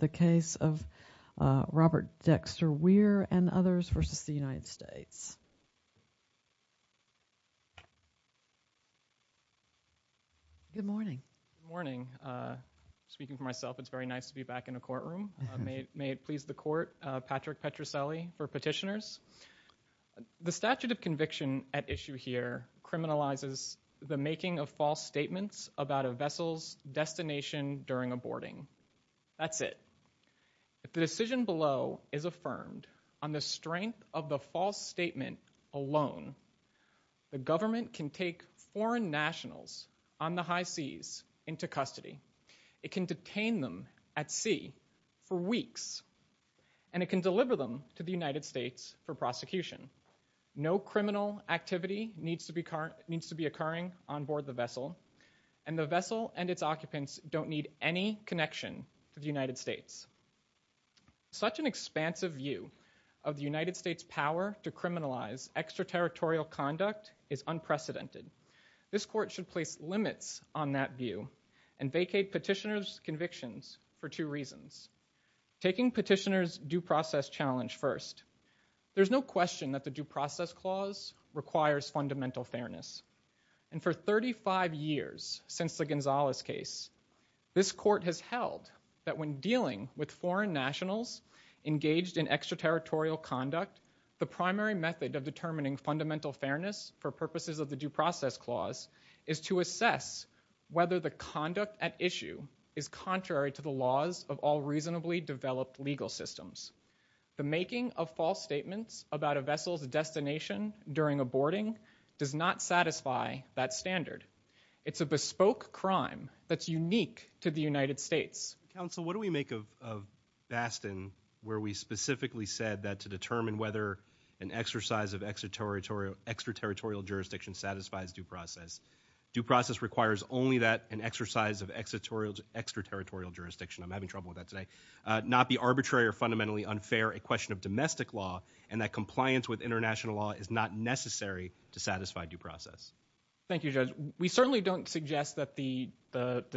the case of Robert Dexter Weir and others v. the United States. Good morning, speaking for myself it's very nice to be back in the courtroom. May it please the court, Patrick Petroselli for petitioners. The statute of conviction at issue here criminalizes the making of false statements about a vessel's destination during a boarding. That's it. If the decision below is affirmed on the strength of the false statement alone, the government can take foreign nationals on the high seas into custody. It can detain them at sea for weeks. And it can deliver them to the United States for prosecution. No criminal activity needs to be occurring on board the vessel and the vessel and its connection to the United States. Such an expansive view of the United States power to criminalize extraterritorial conduct is unprecedented. This court should place limits on that view and vacate petitioner's convictions for two reasons. Taking petitioner's due process challenge first. There's no question that the due process clause requires fundamental fairness. And for 35 years since the Gonzalez case, this court has held that when dealing with foreign nationals engaged in extraterritorial conduct, the primary method of determining fundamental fairness for purposes of the due process clause is to assess whether the conduct at issue is contrary to the laws of all reasonably developed legal systems. The making of false statements about a vessel's destination during a boarding does not satisfy that standard. It's a bespoke crime that's unique to the United States. Counsel, what do we make of Bastin where we specifically said that to determine whether an exercise of extraterritorial jurisdiction satisfies due process, due process requires only that an exercise of extraterritorial jurisdiction, I'm having trouble with that today, not be arbitrary or fundamentally unfair, a question of domestic law, and that compliance with international law is not necessary to satisfy due process. Thank you, Judge. We certainly don't suggest that the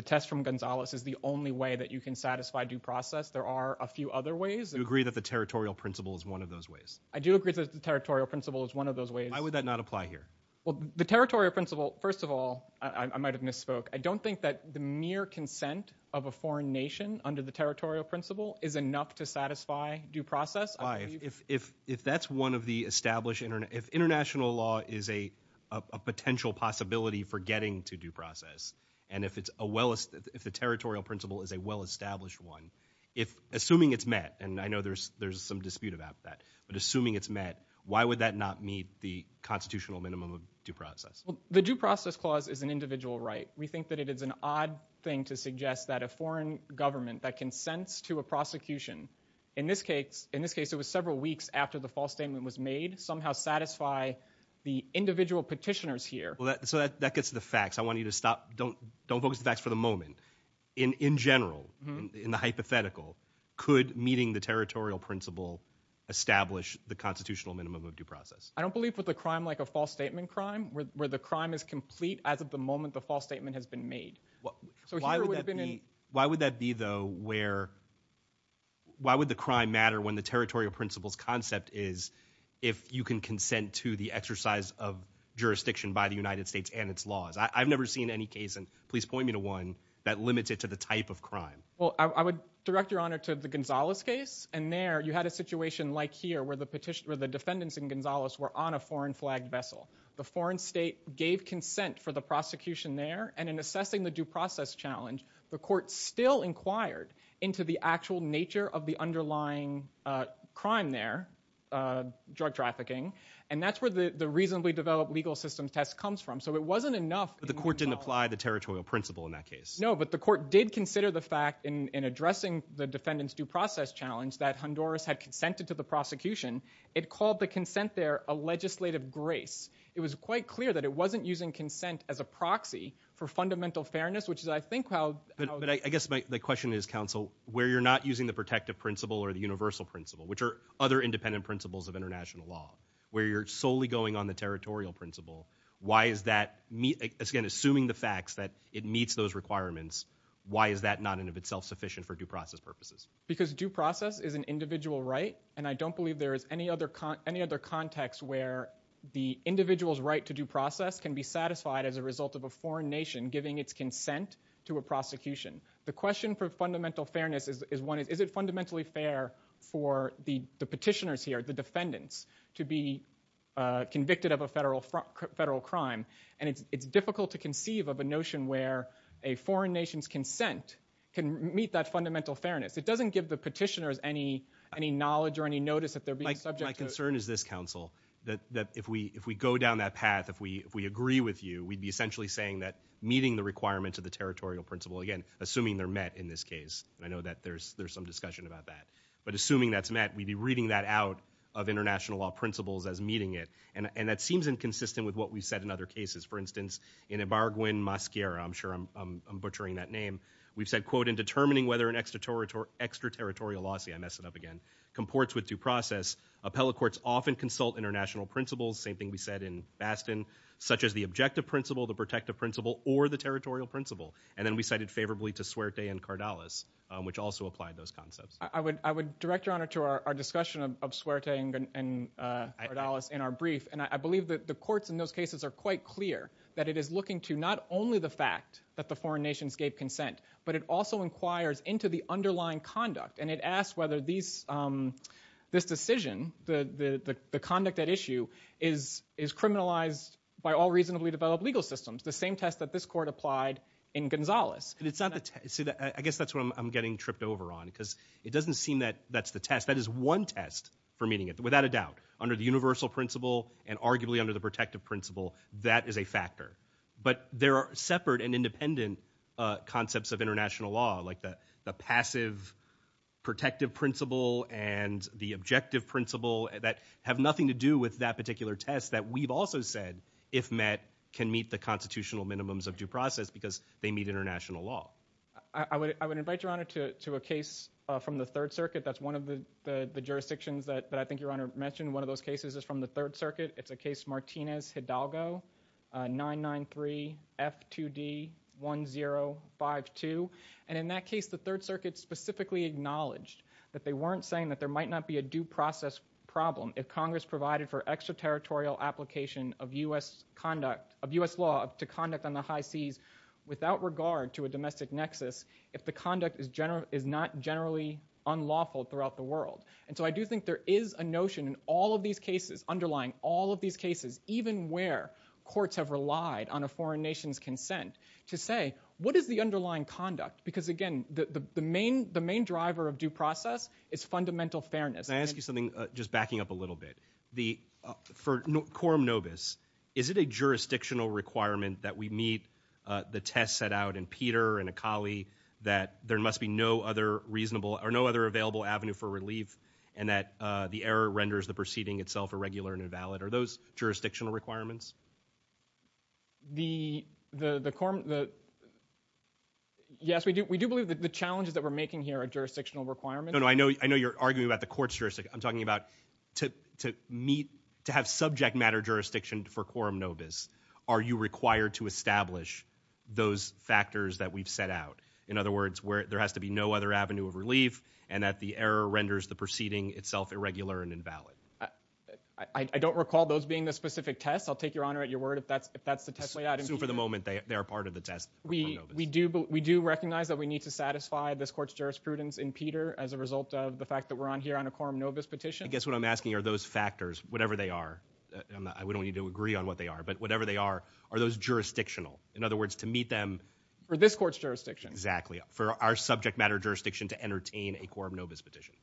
test from Gonzalez is the only way that you can satisfy due process. There are a few other ways. Do you agree that the territorial principle is one of those ways? I do agree that the territorial principle is one of those ways. Why would that not apply here? Well, the territorial principle, first of all, I might have misspoke. I don't think that the mere consent of a foreign nation under the territorial principle is enough to satisfy due process. If that's one of the established, if international law is a potential possibility for getting to due process, and if the territorial principle is a well-established one, assuming it's met, and I know there's some dispute about that, but assuming it's met, why would that not meet the constitutional minimum of due process? The due process clause is an individual right. We think that it is an odd thing to suggest that a foreign government that consents to a prosecution, in this case, it was several weeks after the false statement was made, somehow satisfy the individual petitioners here. That gets to the facts. I want you to stop. Don't focus on the facts for the moment. In general, in the hypothetical, could meeting the territorial principle establish the constitutional minimum of due process? I don't believe with a crime like a false statement crime, where the crime is complete as of the moment the false statement has been made. Why would that be, though, where, why would the crime matter when the territorial principle's concept is if you can consent to the exercise of jurisdiction by the United States and its laws? I've never seen any case, and please point me to one, that limits it to the type of crime. I would direct your honor to the Gonzales case, and there, you had a situation like here where the defendants in Gonzales were on a foreign flagged vessel. The foreign state gave consent for the prosecution there, and in assessing the due process challenge, the court still inquired into the actual nature of the underlying crime there, drug trafficking, and that's where the reasonably developed legal system test comes from. So it wasn't enough. But the court didn't apply the territorial principle in that case. No, but the court did consider the fact in addressing the defendant's due process challenge that Honduras had consented to the prosecution. It called the consent there a legislative grace. It was quite clear that it wasn't using consent as a proxy for fundamental fairness, which is, I think, how... But I guess my question is, counsel, where you're not using the protective principle or the universal principle, which are other independent principles of international law, where you're solely going on the territorial principle, why is that, again, assuming the facts that it meets those requirements, why is that not, in and of itself, sufficient for due process purposes? Because due process is an individual right, and I don't believe there is any other context where the individual's right to due process can be satisfied as a result of a foreign nation giving its consent to a prosecution. The question for fundamental fairness is one, is it fundamentally fair for the petitioners here, the defendants, to be convicted of a federal crime, and it's difficult to conceive of a notion where a foreign nation's consent can meet that fundamental fairness. It doesn't give the petitioners any knowledge or any notice that they're being subject to... My concern is this, counsel, that if we go down that path, if we agree with you, we'd be essentially saying that meeting the requirements of the territorial principle, again, assuming they're met in this case, and I know that there's some discussion about that, but assuming that's met, we'd be reading that out of international law principles as meeting it, and that seems inconsistent with what we've said in other cases. For instance, in Ibarguen, Mascara, I'm sure I'm butchering that name, we've said, quote, in determining whether an extraterritorial lawsuit, I messed it up again, comports with due process, appellate courts often consult international principles, same thing we said in Bastin, such as the objective principle, the protective principle, or the territorial principle, and then we cited favorably to Suerte and Cardales, which also applied those concepts. I would direct your honor to our discussion of Suerte and Cardales in our brief, and I believe that the courts in those cases are quite clear that it is looking to not only the fact that the foreign nations gave consent, but it also inquires into the underlying conduct, and it asks whether this decision, the conduct at issue, is criminalized by all reasonably developed legal systems, the same test that this court applied in Gonzales. I guess that's what I'm getting tripped over on, because it doesn't seem that that's the test, that is one test for meeting it, without a doubt, under the universal principle, and arguably under the protective principle, that is a factor. But there are separate and independent concepts of international law, like the passive protective principle and the objective principle, that have nothing to do with that particular test that we've also said, if met, can meet the constitutional minimums of due process, because they meet international law. I would invite your honor to a case from the Third Circuit, that's one of the jurisdictions that I think your honor mentioned, one of those cases is from the Third Circuit, it's the case Martinez-Hidalgo, 993F2D1052, and in that case, the Third Circuit specifically acknowledged that they weren't saying that there might not be a due process problem if Congress provided for extraterritorial application of U.S. conduct, of U.S. law to conduct on the high seas, without regard to a domestic nexus, if the conduct is not generally unlawful throughout the world. And so I do think there is a notion in all of these cases, underlying all of these cases, even where courts have relied on a foreign nation's consent, to say, what is the underlying conduct? Because again, the main driver of due process is fundamental fairness. Can I ask you something, just backing up a little bit? For quorum nobis, is it a jurisdictional requirement that we meet the test set out in Peter and that the error renders the proceeding itself irregular and invalid? Are those jurisdictional requirements? The quorum, yes, we do believe that the challenges that we're making here are jurisdictional requirements. No, no, I know you're arguing about the court's jurisdiction, I'm talking about to meet, to have subject matter jurisdiction for quorum nobis, are you required to establish those factors that we've set out? In other words, where there has to be no other avenue of relief, and that the error renders the proceeding itself irregular and invalid. I don't recall those being the specific tests, I'll take your honor at your word if that's the test laid out. Assume for the moment they are part of the test for quorum nobis. We do recognize that we need to satisfy this court's jurisprudence in Peter as a result of the fact that we're on here on a quorum nobis petition. I guess what I'm asking are those factors, whatever they are, we don't need to agree on what they are, but whatever they are, are those jurisdictional? In other words, to meet them- For this court's jurisdiction. Exactly. For our subject matter jurisdiction to entertain a quorum nobis petition.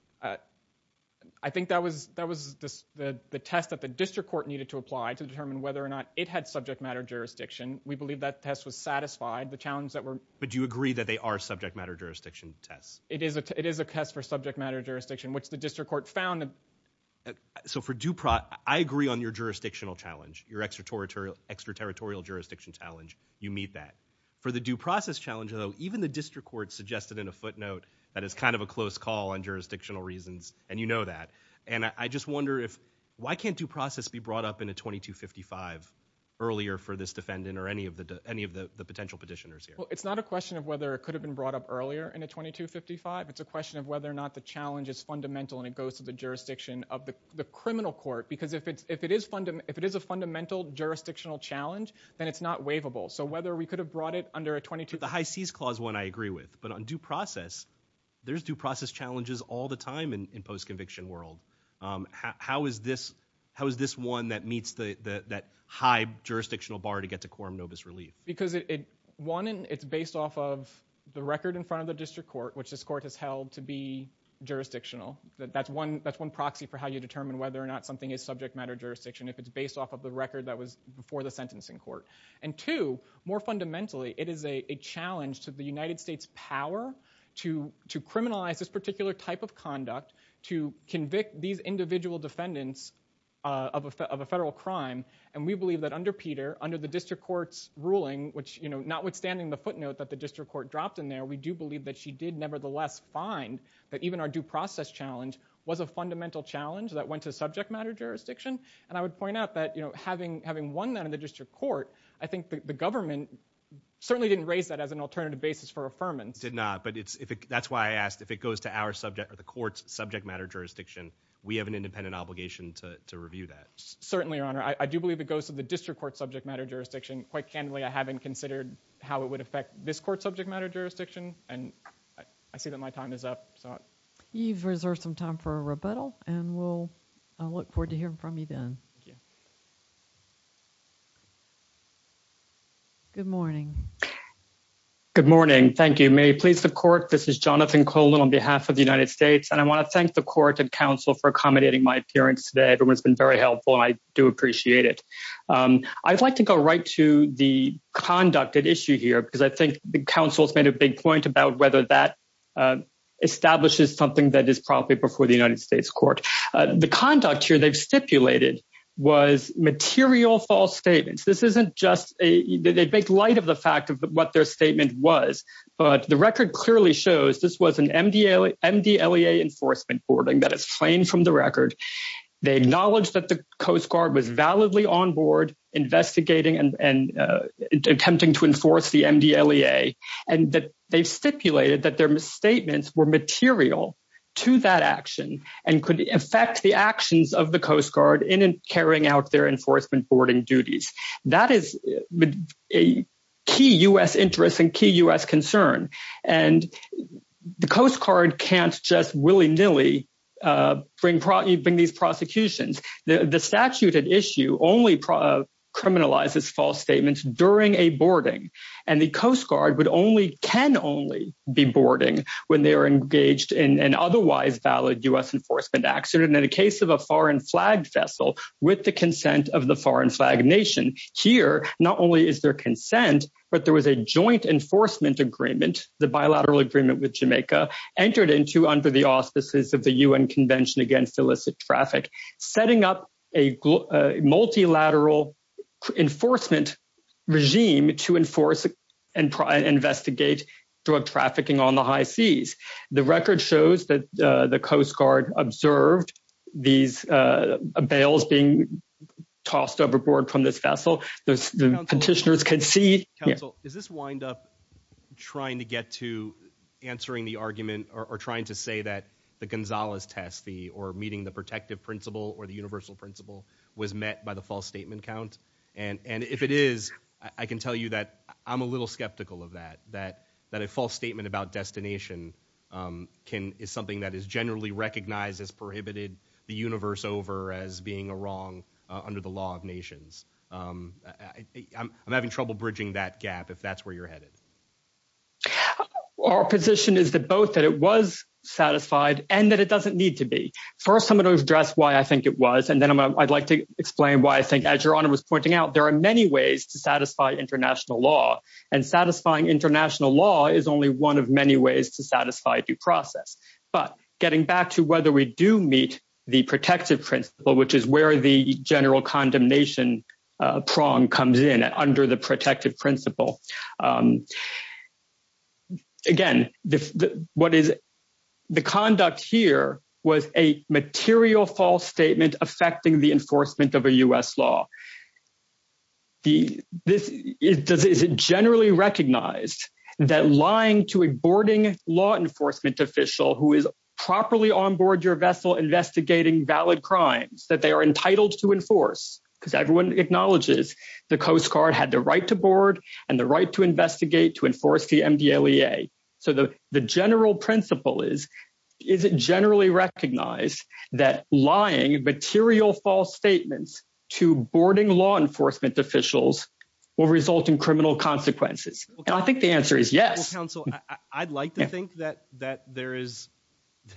I think that was the test that the district court needed to apply to determine whether or not it had subject matter jurisdiction. We believe that test was satisfied. The challenge that we're- But do you agree that they are subject matter jurisdiction tests? It is a test for subject matter jurisdiction, which the district court found- So I agree on your jurisdictional challenge, your extraterritorial jurisdiction challenge, you meet that. For the due process challenge, though, even the district court suggested in a footnote that it's kind of a close call on jurisdictional reasons, and you know that. And I just wonder if, why can't due process be brought up in a 2255 earlier for this defendant or any of the potential petitioners here? It's not a question of whether it could have been brought up earlier in a 2255, it's a question of whether or not the challenge is fundamental and it goes to the jurisdiction of the criminal court. Because if it is a fundamental jurisdictional challenge, then it's not waivable. So whether we could have brought it under a 22- The High Seize Clause one I agree with, but on due process, there's due process challenges all the time in post-conviction world. How is this one that meets that high jurisdictional bar to get to quorum nobis relief? Because one, it's based off of the record in front of the district court, which this court has held to be jurisdictional, that's one proxy for how you determine whether or not something is subject matter jurisdiction if it's based off of the record that was before the sentencing court. And two, more fundamentally, it is a challenge to the United States' power to criminalize this particular type of conduct, to convict these individual defendants of a federal crime, and we believe that under Peter, under the district court's ruling, notwithstanding the footnote that the district court dropped in there, we do believe that she did nevertheless find that even our due process challenge was a fundamental challenge that went to subject matter jurisdiction. And I would point out that, you know, having won that in the district court, I think the government certainly didn't raise that as an alternative basis for affirmance. Did not. But that's why I asked, if it goes to our subject, or the court's subject matter jurisdiction, we have an independent obligation to review that. Certainly, Your Honor. I do believe it goes to the district court's subject matter jurisdiction. Quite candidly, I haven't considered how it would affect this court's subject matter jurisdiction, and I see that my time is up, so. You've reserved some time for a rebuttal, and we'll look forward to hearing from you then. Thank you. Good morning. Good morning. Thank you. May it please the court, this is Jonathan Colon on behalf of the United States, and I want to thank the court and counsel for accommodating my appearance today. Everyone's been very helpful, and I do appreciate it. I'd like to go right to the conduct at issue here, because I think the counsel's made a point about whether that establishes something that is probably before the United States court. The conduct here they've stipulated was material false statements. This isn't just a, they make light of the fact of what their statement was, but the record clearly shows this was an MDLEA enforcement boarding that is plain from the record. They acknowledge that the Coast Guard was validly on board investigating and attempting to enforce the MDLEA, and that they've stipulated that their statements were material to that action and could affect the actions of the Coast Guard in carrying out their enforcement boarding duties. That is a key U.S. interest and key U.S. concern, and the Coast Guard can't just willy-nilly bring these prosecutions. The statute at issue only criminalizes false statements during a boarding, and the Coast Guard would only, can only be boarding when they are engaged in an otherwise valid U.S. enforcement action. In the case of a foreign flag vessel with the consent of the foreign flag nation, here not only is there consent, but there was a joint enforcement agreement, the bilateral agreement with Jamaica, entered into under the auspices of the U.N. Convention Against Illicit Traffic, setting up a multilateral enforcement regime to enforce and investigate drug trafficking on the high seas. The record shows that the Coast Guard observed these bails being tossed overboard from this vessel. The petitioners can see- Counsel, does this wind up trying to get to answering the argument or trying to say that the Gonzalez test, or meeting the protective principle or the universal principle, was met by the false statement count? And if it is, I can tell you that I'm a little skeptical of that, that a false statement about destination is something that is generally recognized as prohibited the universe over as being wrong under the law of nations. I'm having trouble bridging that gap if that's where you're headed. Our position is that both that it was satisfied and that it doesn't need to be. First, I'm going to address why I think it was, and then I'd like to explain why I think as Your Honor was pointing out, there are many ways to satisfy international law. And satisfying international law is only one of many ways to satisfy due process. But getting back to whether we do meet the protective principle, which is where the general condemnation prong comes in, under the protective principle, again, the conduct here was a material false statement affecting the enforcement of a U.S. law. Is it generally recognized that lying to a boarding law enforcement official who is properly on board your vessel investigating valid crimes that they are entitled to enforce? Because everyone acknowledges the Coast Guard had the right to board and the right to investigate, to enforce the MDLEA. So the general principle is, is it generally recognized that lying, material false statements to boarding law enforcement officials will result in criminal consequences? And I think the answer is yes. Counsel, I'd like to think that there is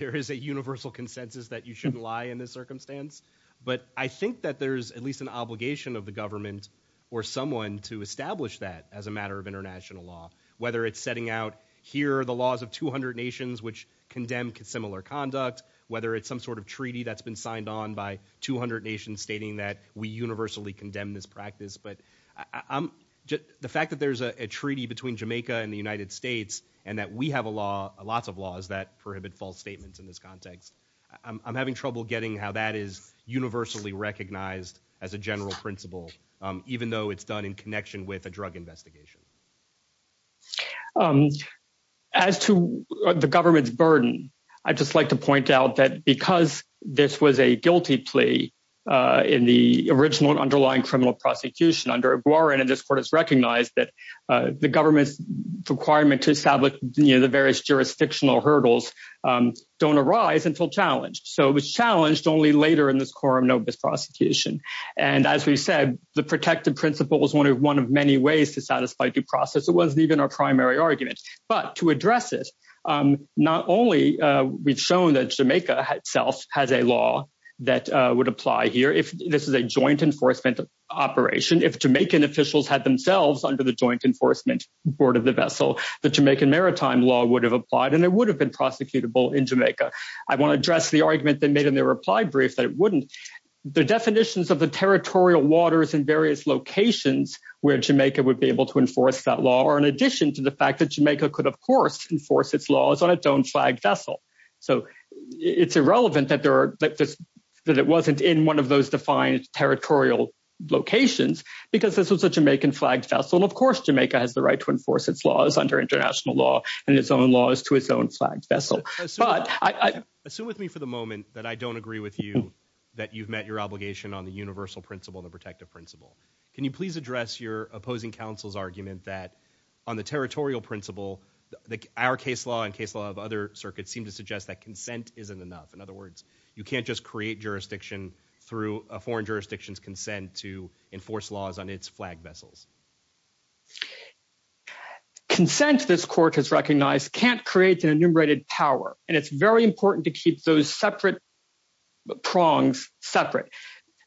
a universal consensus that you shouldn't lie in this circumstance. But I think that there's at least an obligation of the government or someone to establish that as a matter of international law. Whether it's setting out, here are the laws of 200 nations which condemn similar conduct. Whether it's some sort of treaty that's been signed on by 200 nations stating that we universally condemn this practice. But the fact that there's a treaty between Jamaica and the United States and that we have a lot of laws that prohibit false statements in this context, I'm having trouble getting how that is universally recognized as a general principle, even though it's done in connection with a drug investigation. As to the government's burden, I'd just like to point out that because this was a guilty plea in the original and underlying criminal prosecution under Iguaran, and this court has recognized that the government's requirement to establish the various jurisdictional hurdles don't arise until challenged. So it was challenged only later in this Corum Nobis prosecution. And as we said, the protective principle was one of many ways to satisfy due process. It wasn't even our primary argument. But to address it, not only we've shown that Jamaica itself has a law that would apply here if this is a joint enforcement operation, if Jamaican officials had themselves under the joint enforcement board of the vessel, the Jamaican maritime law would have applied and it would have been prosecutable in Jamaica. I want to address the argument they made in their reply brief that it wouldn't. The definitions of the territorial waters in various locations where Jamaica would be could, of course, enforce its laws on its own flagged vessel. So it's irrelevant that it wasn't in one of those defined territorial locations because this was a Jamaican flagged vessel. Of course, Jamaica has the right to enforce its laws under international law and its own laws to its own flagged vessel. Assume with me for the moment that I don't agree with you that you've met your obligation on the universal principle, the protective principle. Can you please address your opposing counsel's argument that on the territorial principle, our case law and case law of other circuits seem to suggest that consent isn't enough. In other words, you can't just create jurisdiction through a foreign jurisdiction's consent to enforce laws on its flagged vessels. Consent, this court has recognized, can't create an enumerated power. And it's very important to keep those separate prongs separate.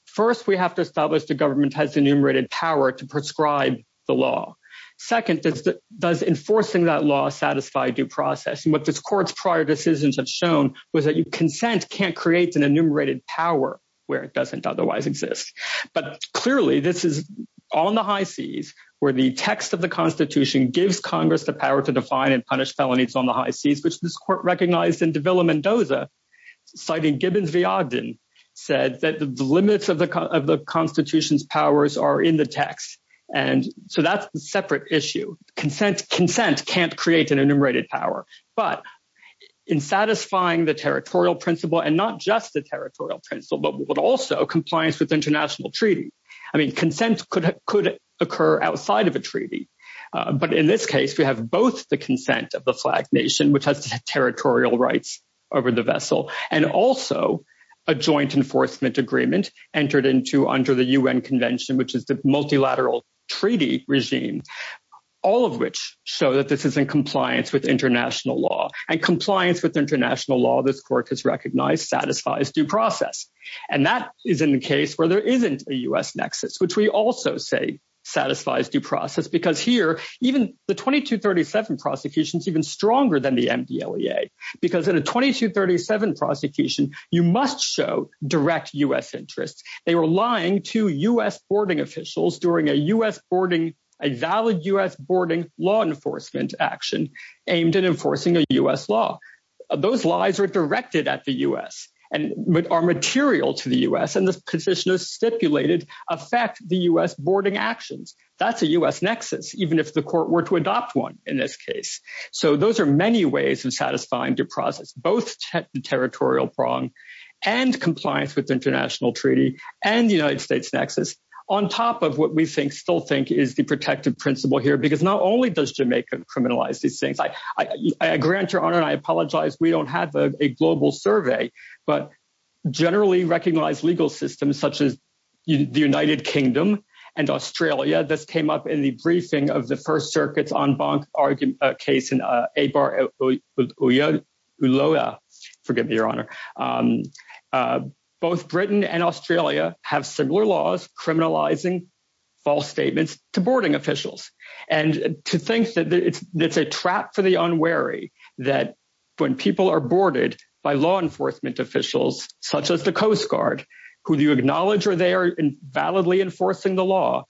First, we have to establish the government has enumerated power to prescribe the law. Second, does enforcing that law satisfy due process? And what this court's prior decisions have shown was that consent can't create an enumerated power where it doesn't otherwise exist. But clearly, this is on the high seas where the text of the Constitution gives Congress the power to define and punish felonies on the high seas, which this court recognized in Davila-Mendoza, citing Gibbons v. Ogden, said that the limits of the Constitution's powers are in the text. And so that's a separate issue. Consent can't create an enumerated power. But in satisfying the territorial principle, and not just the territorial principle, but also compliance with international treaty, I mean, consent could occur outside of a treaty. But in this case, we have both the consent of the flag nation, which has territorial rights over the vessel, and also a joint enforcement agreement entered into under the UN Convention, which is the multilateral treaty regime, all of which show that this is in compliance with international law. And compliance with international law, this court has recognized, satisfies due process. And that is in the case where there isn't a US nexus, which we also say satisfies due process, because here, even the 2237 prosecution is even stronger than the MDLEA. Because in a 2237 prosecution, you must show direct US interests. They were lying to US boarding officials during a US boarding, a valid US boarding law enforcement action aimed at enforcing a US law. Those lies are directed at the US, and are material to the US, and the position is stipulated affect the US boarding actions. That's a US nexus, even if the court were to adopt one in this case. So those are many ways of satisfying due process, both territorial prong, and compliance with international treaty, and the United States nexus, on top of what we think, still think is the protective principle here. Because not only does Jamaica criminalize these things, I grant your honor, and I apologize, we don't have a global survey, but generally recognized legal systems such as the United Kingdom, and Australia, this came up in the briefing of the First Circuit's en banc argument case in Eibar-Uloa, forgive me, your honor. Both Britain and Australia have similar laws criminalizing false statements to boarding officials. And to think that it's a trap for the unwary, that when people are boarded by law enforcement officials, such as the Coast Guard, who you acknowledge are there and validly enforcing the law,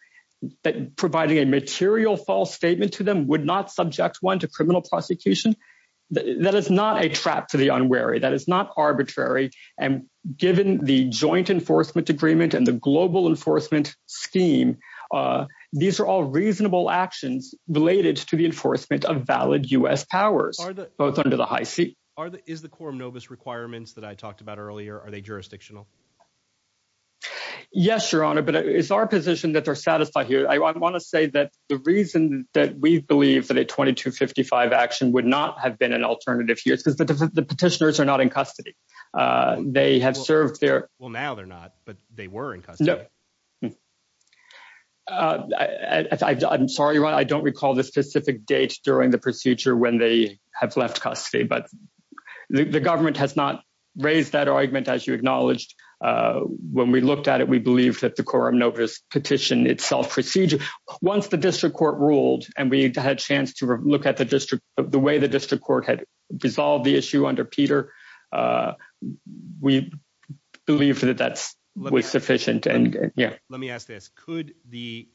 that providing a material false statement to them would not subject one to criminal prosecution. That is not a trap for the unwary. That is not arbitrary. And given the joint enforcement agreement and the global enforcement scheme, these are all reasonable actions related to the enforcement of valid US powers, both under the high seat. Is the quorum novus requirements that I talked about earlier, are they jurisdictional? Yes, your honor. But it's our position that they're satisfied here. I want to say that the reason that we believe that a 2255 action would not have been an alternative here is because the petitioners are not in custody. They have served their- Well, now they're not, but they were in custody. No. I'm sorry, your honor, I don't recall the specific date during the procedure when they have left custody, but the government has not raised that argument as you acknowledged. When we looked at it, we believe that the quorum novus petition itself procedure. Once the district court ruled and we had a chance to look at the way the district court had resolved the issue under Peter, we believe that that was sufficient. Let me ask this. Could the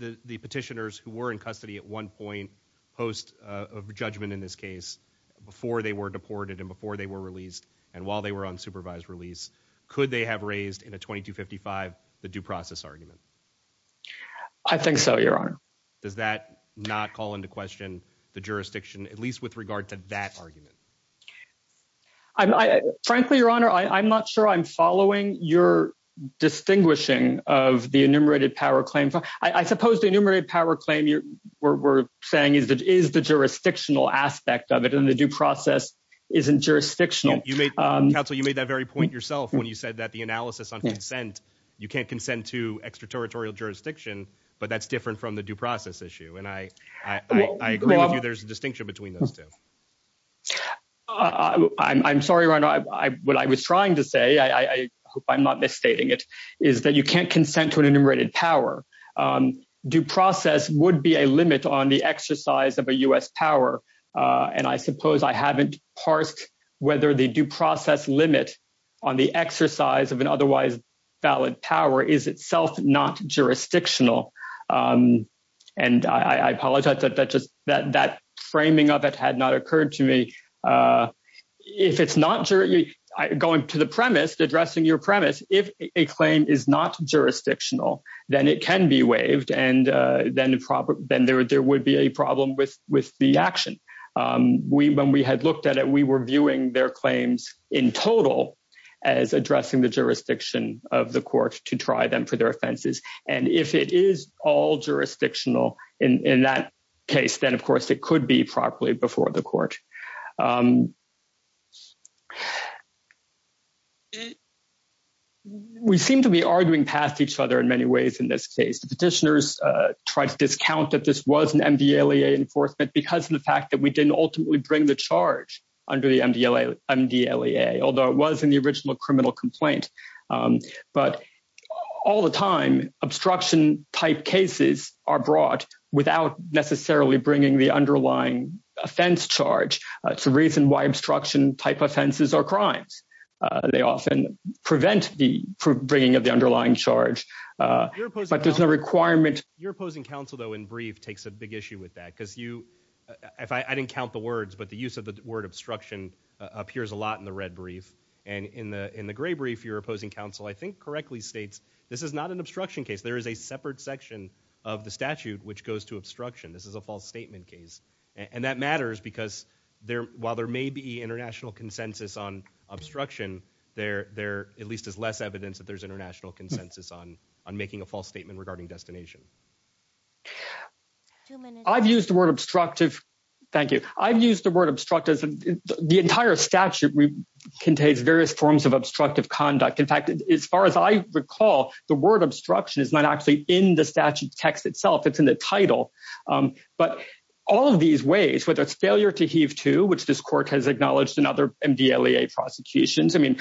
petitioners who were in custody at one point post a judgment in this case before they were deported and before they were released and while they were on supervised release, could they have raised in a 2255 the due process argument? I think so, your honor. Does that not call into question the jurisdiction, at least with regard to that argument? Frankly, your honor, I'm not sure I'm following your distinguishing of the enumerated power claim. I suppose the enumerated power claim we're saying is the jurisdictional aspect of it, and the due process isn't jurisdictional. Counsel, you made that very point yourself when you said that the analysis on consent, you can't consent to extraterritorial jurisdiction, but that's different from the due process issue, and I agree with you there's a distinction between those two. I'm sorry, your honor, what I was trying to say, I hope I'm not misstating it, is that you can't consent to an enumerated power. Due process would be a limit on the exercise of a US power, and I suppose I haven't parsed whether the due process limit on the exercise of an otherwise valid power is itself not jurisdictional. And I apologize that that framing of it had not occurred to me. If it's not going to the premise, addressing your premise, if a claim is not jurisdictional, then it can be waived, and then there would be a problem with the action. When we had looked at it, we were viewing their claims in total as addressing the jurisdiction of the court to try them for their offenses. And if it is all jurisdictional in that case, then, of course, it could be properly before the court. We seem to be arguing past each other in many ways in this case. The petitioners tried to discount that this was an MDLEA enforcement because of the fact that we didn't ultimately bring the charge under the MDLEA, although it was in the original criminal complaint. But all the time, obstruction-type cases are brought without necessarily bringing the underlying offense charge. It's a reason why obstruction-type offenses are crimes. They often prevent the bringing of the underlying charge, but there's no requirement. Your opposing counsel, though, in brief takes a big issue with that because you—I didn't count the words, but the use of the word obstruction appears a lot in the red brief. And in the gray brief, your opposing counsel, I think, correctly states this is not an obstruction case. There is a separate section of the statute which goes to obstruction. This is a false statement case. And that matters because while there may be international consensus on obstruction, there at least is less evidence that there's international consensus on making a false statement regarding destination. I've used the word obstructive—thank you. —various forms of obstructive conduct. In fact, as far as I recall, the word obstruction is not actually in the statute text itself. It's in the title. But all of these ways, whether it's failure to heave to, which this court has acknowledged in other MDLEA prosecutions—I mean,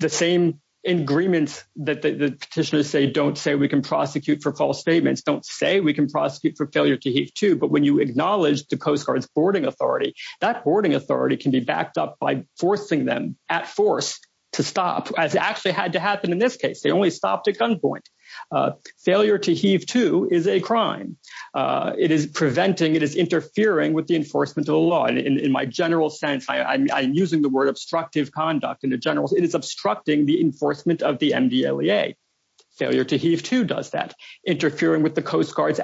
the same agreements that the petitioners say don't say we can prosecute for false statements don't say we can prosecute for failure to heave to. But when you acknowledge the Coast Guard's boarding authority, that boarding authority can be backed up by forcing them at force to stop, as actually had to happen in this case. They only stopped at gunpoint. Failure to heave to is a crime. It is preventing, it is interfering with the enforcement of the law. And in my general sense, I'm using the word obstructive conduct in the general sense, it is obstructing the enforcement of the MDLEA. Failure to heave to does that. Interfering with the Coast Guard's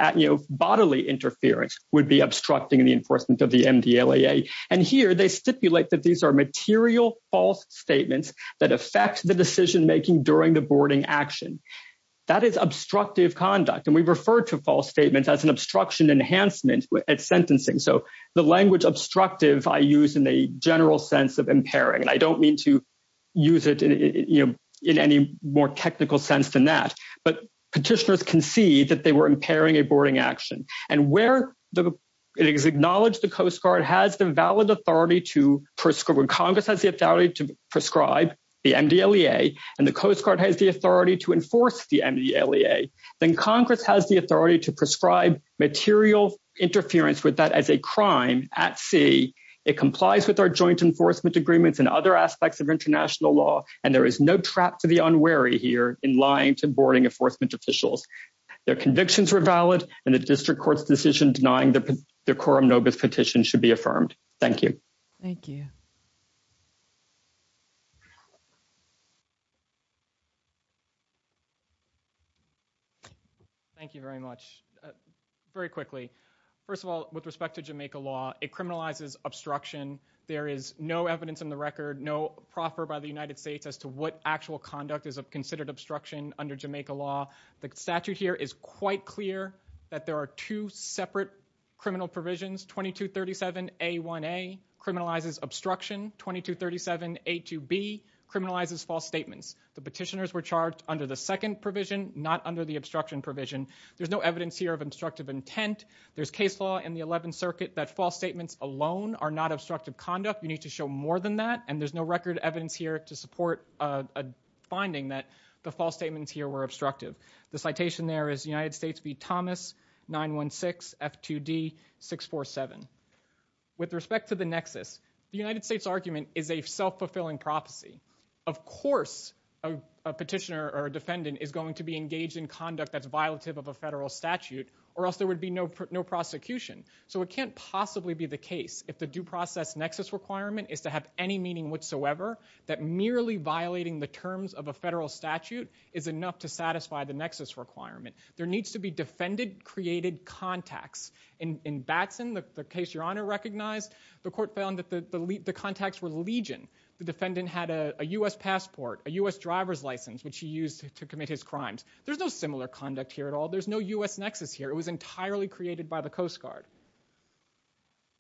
bodily interference would be obstructing the enforcement of the MDLEA. And here, they stipulate that these are material false statements that affect the decision making during the boarding action. That is obstructive conduct. And we refer to false statements as an obstruction enhancement at sentencing. So the language obstructive, I use in the general sense of impairing. And I don't mean to use it in any more technical sense than that. But petitioners can see that they were impairing a boarding action. And where it is acknowledged the Coast Guard has the valid authority to prescribe, when Congress has the authority to prescribe the MDLEA, and the Coast Guard has the authority to enforce the MDLEA, then Congress has the authority to prescribe material interference with that as a crime at sea. It complies with our joint enforcement agreements and other aspects of international law. And there is no trap for the unwary here in lying to boarding enforcement officials. Their convictions were valid. And the district court's decision denying the quorum nobis petition should be affirmed. Thank you. Thank you. Thank you very much. Very quickly. First of all, with respect to Jamaica law, it criminalizes obstruction. There is no evidence in the record, no proffer by the United States as to what actual conduct is considered obstruction under Jamaica law. The statute here is quite clear that there are two separate criminal provisions. 2237A1A criminalizes obstruction. 2237A2B criminalizes false statements. The petitioners were charged under the second provision, not under the obstruction provision. There's no evidence here of obstructive intent. There's case law in the 11th Circuit that false statements alone are not obstructive conduct. You need to show more than that. And there's no record evidence here to support a finding that the false statements here were The citation there is United States v. Thomas 916 F2D 647. With respect to the nexus, the United States argument is a self-fulfilling prophecy. Of course, a petitioner or defendant is going to be engaged in conduct that's violative of a federal statute or else there would be no prosecution. So it can't possibly be the case if the due process nexus requirement is to have any meaning whatsoever that merely violating the terms of a federal statute is enough to satisfy the nexus requirement. There needs to be defended created contacts. In Batson, the case your Honor recognized, the court found the contacts were legion. The defendant had a U.S. passport, a U.S. driver's license which he used to commit his crimes. There's no similar conduct here at all. There's no U.S. nexus here. It was entirely created by the Coast Guard.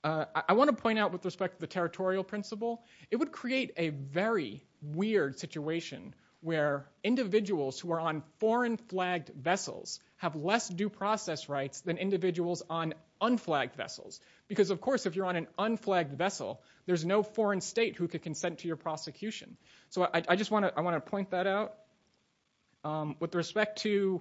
I want to point out with respect to the territorial principle, it would create a very weird situation where individuals who are on foreign flagged vessels have less due process rights than individuals on unflagged vessels. Because, of course, if you're on an unflagged vessel, there's no foreign state who can consent to your prosecution. So I just want to point that out. With respect to,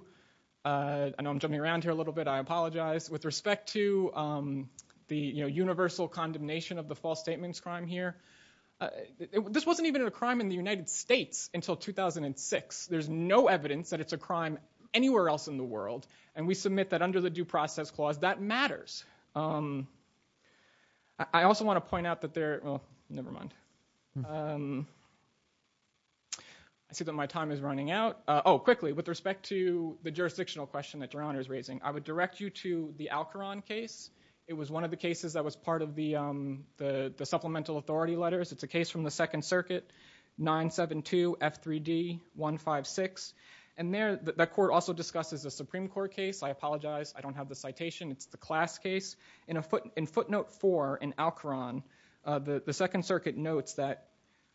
I know I'm jumping around here a little bit. I apologize. With respect to the universal condemnation of the false statements crime here, this wasn't even a crime in the United States until 2006. There's no evidence that it's a crime anywhere else in the world, and we submit that under the due process clause, that matters. I also want to point out that there, well, never mind. I see that my time is running out. Oh, quickly, with respect to the jurisdictional question that your Honor is raising, I would direct you to the Alcoron case. It was one of the cases that was part of the supplemental authority letters. It's a case from the Second Circuit, 972 F3D 156. And that court also discusses a Supreme Court case. I apologize. I don't have the citation. It's the class case. In footnote four in Alcoron, the Second Circuit notes that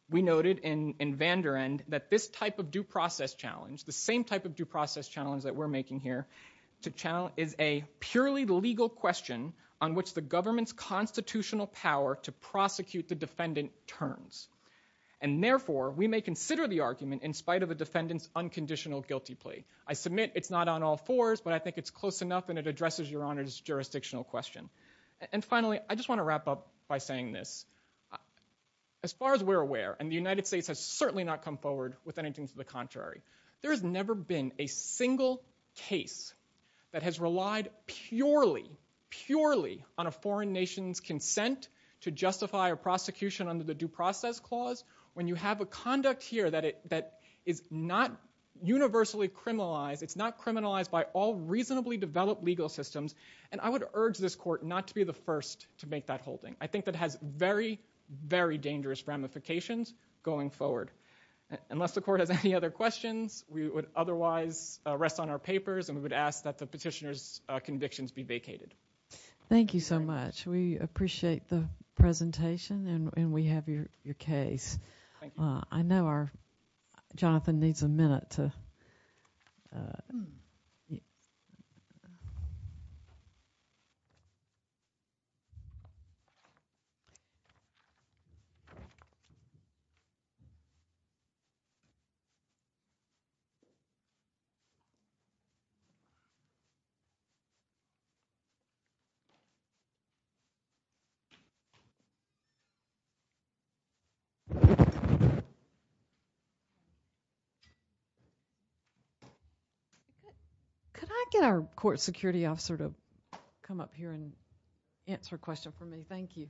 we noted in Vander End that this type of due process challenge, the same type of due process challenge that we're making here, is a purely legal question on which the government's constitutional power to prosecute the defendant turns. And therefore, we may consider the argument in spite of the defendant's unconditional guilty plea. I submit it's not on all fours, but I think it's close enough and it addresses your Honor's jurisdictional question. And finally, I just want to wrap up by saying this. As far as we're aware, and the United States has certainly not come forward with anything to the contrary, there has never been a single case that has relied purely, purely on a foreign nation's consent to justify a prosecution under the due process clause. When you have a conduct here that is not universally criminalized, it's not criminalized by all reasonably developed legal systems, and I would urge this court not to be the first to make that holding. I think that has very, very dangerous ramifications going forward. Unless the court has any other questions, we would otherwise rest on our papers and we would ask that the petitioner's convictions be vacated. Thank you so much. We appreciate the presentation and we have your case. Thank you. I know our... Jonathan needs a minute to... Could I get our court security officer to come up here and answer a question for me? Thank you.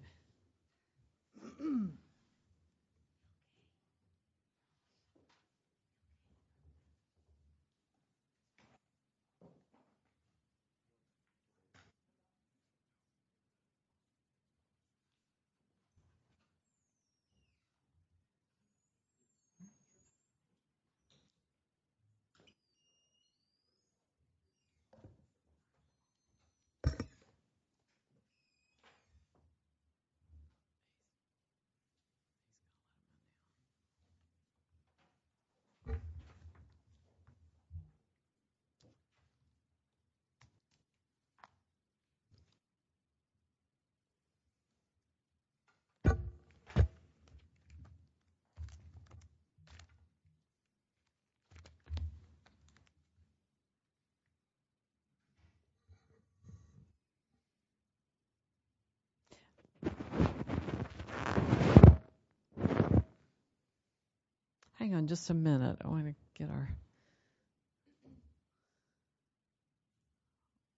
Hang on just a minute. I want to get our...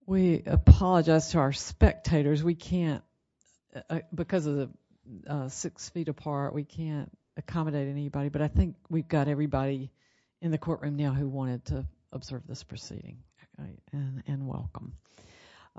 We apologize to our spectators. We can't, because of the six feet apart, we can't accommodate anybody, but I think we've got everybody in the courtroom now who wanted to observe this proceeding and welcome.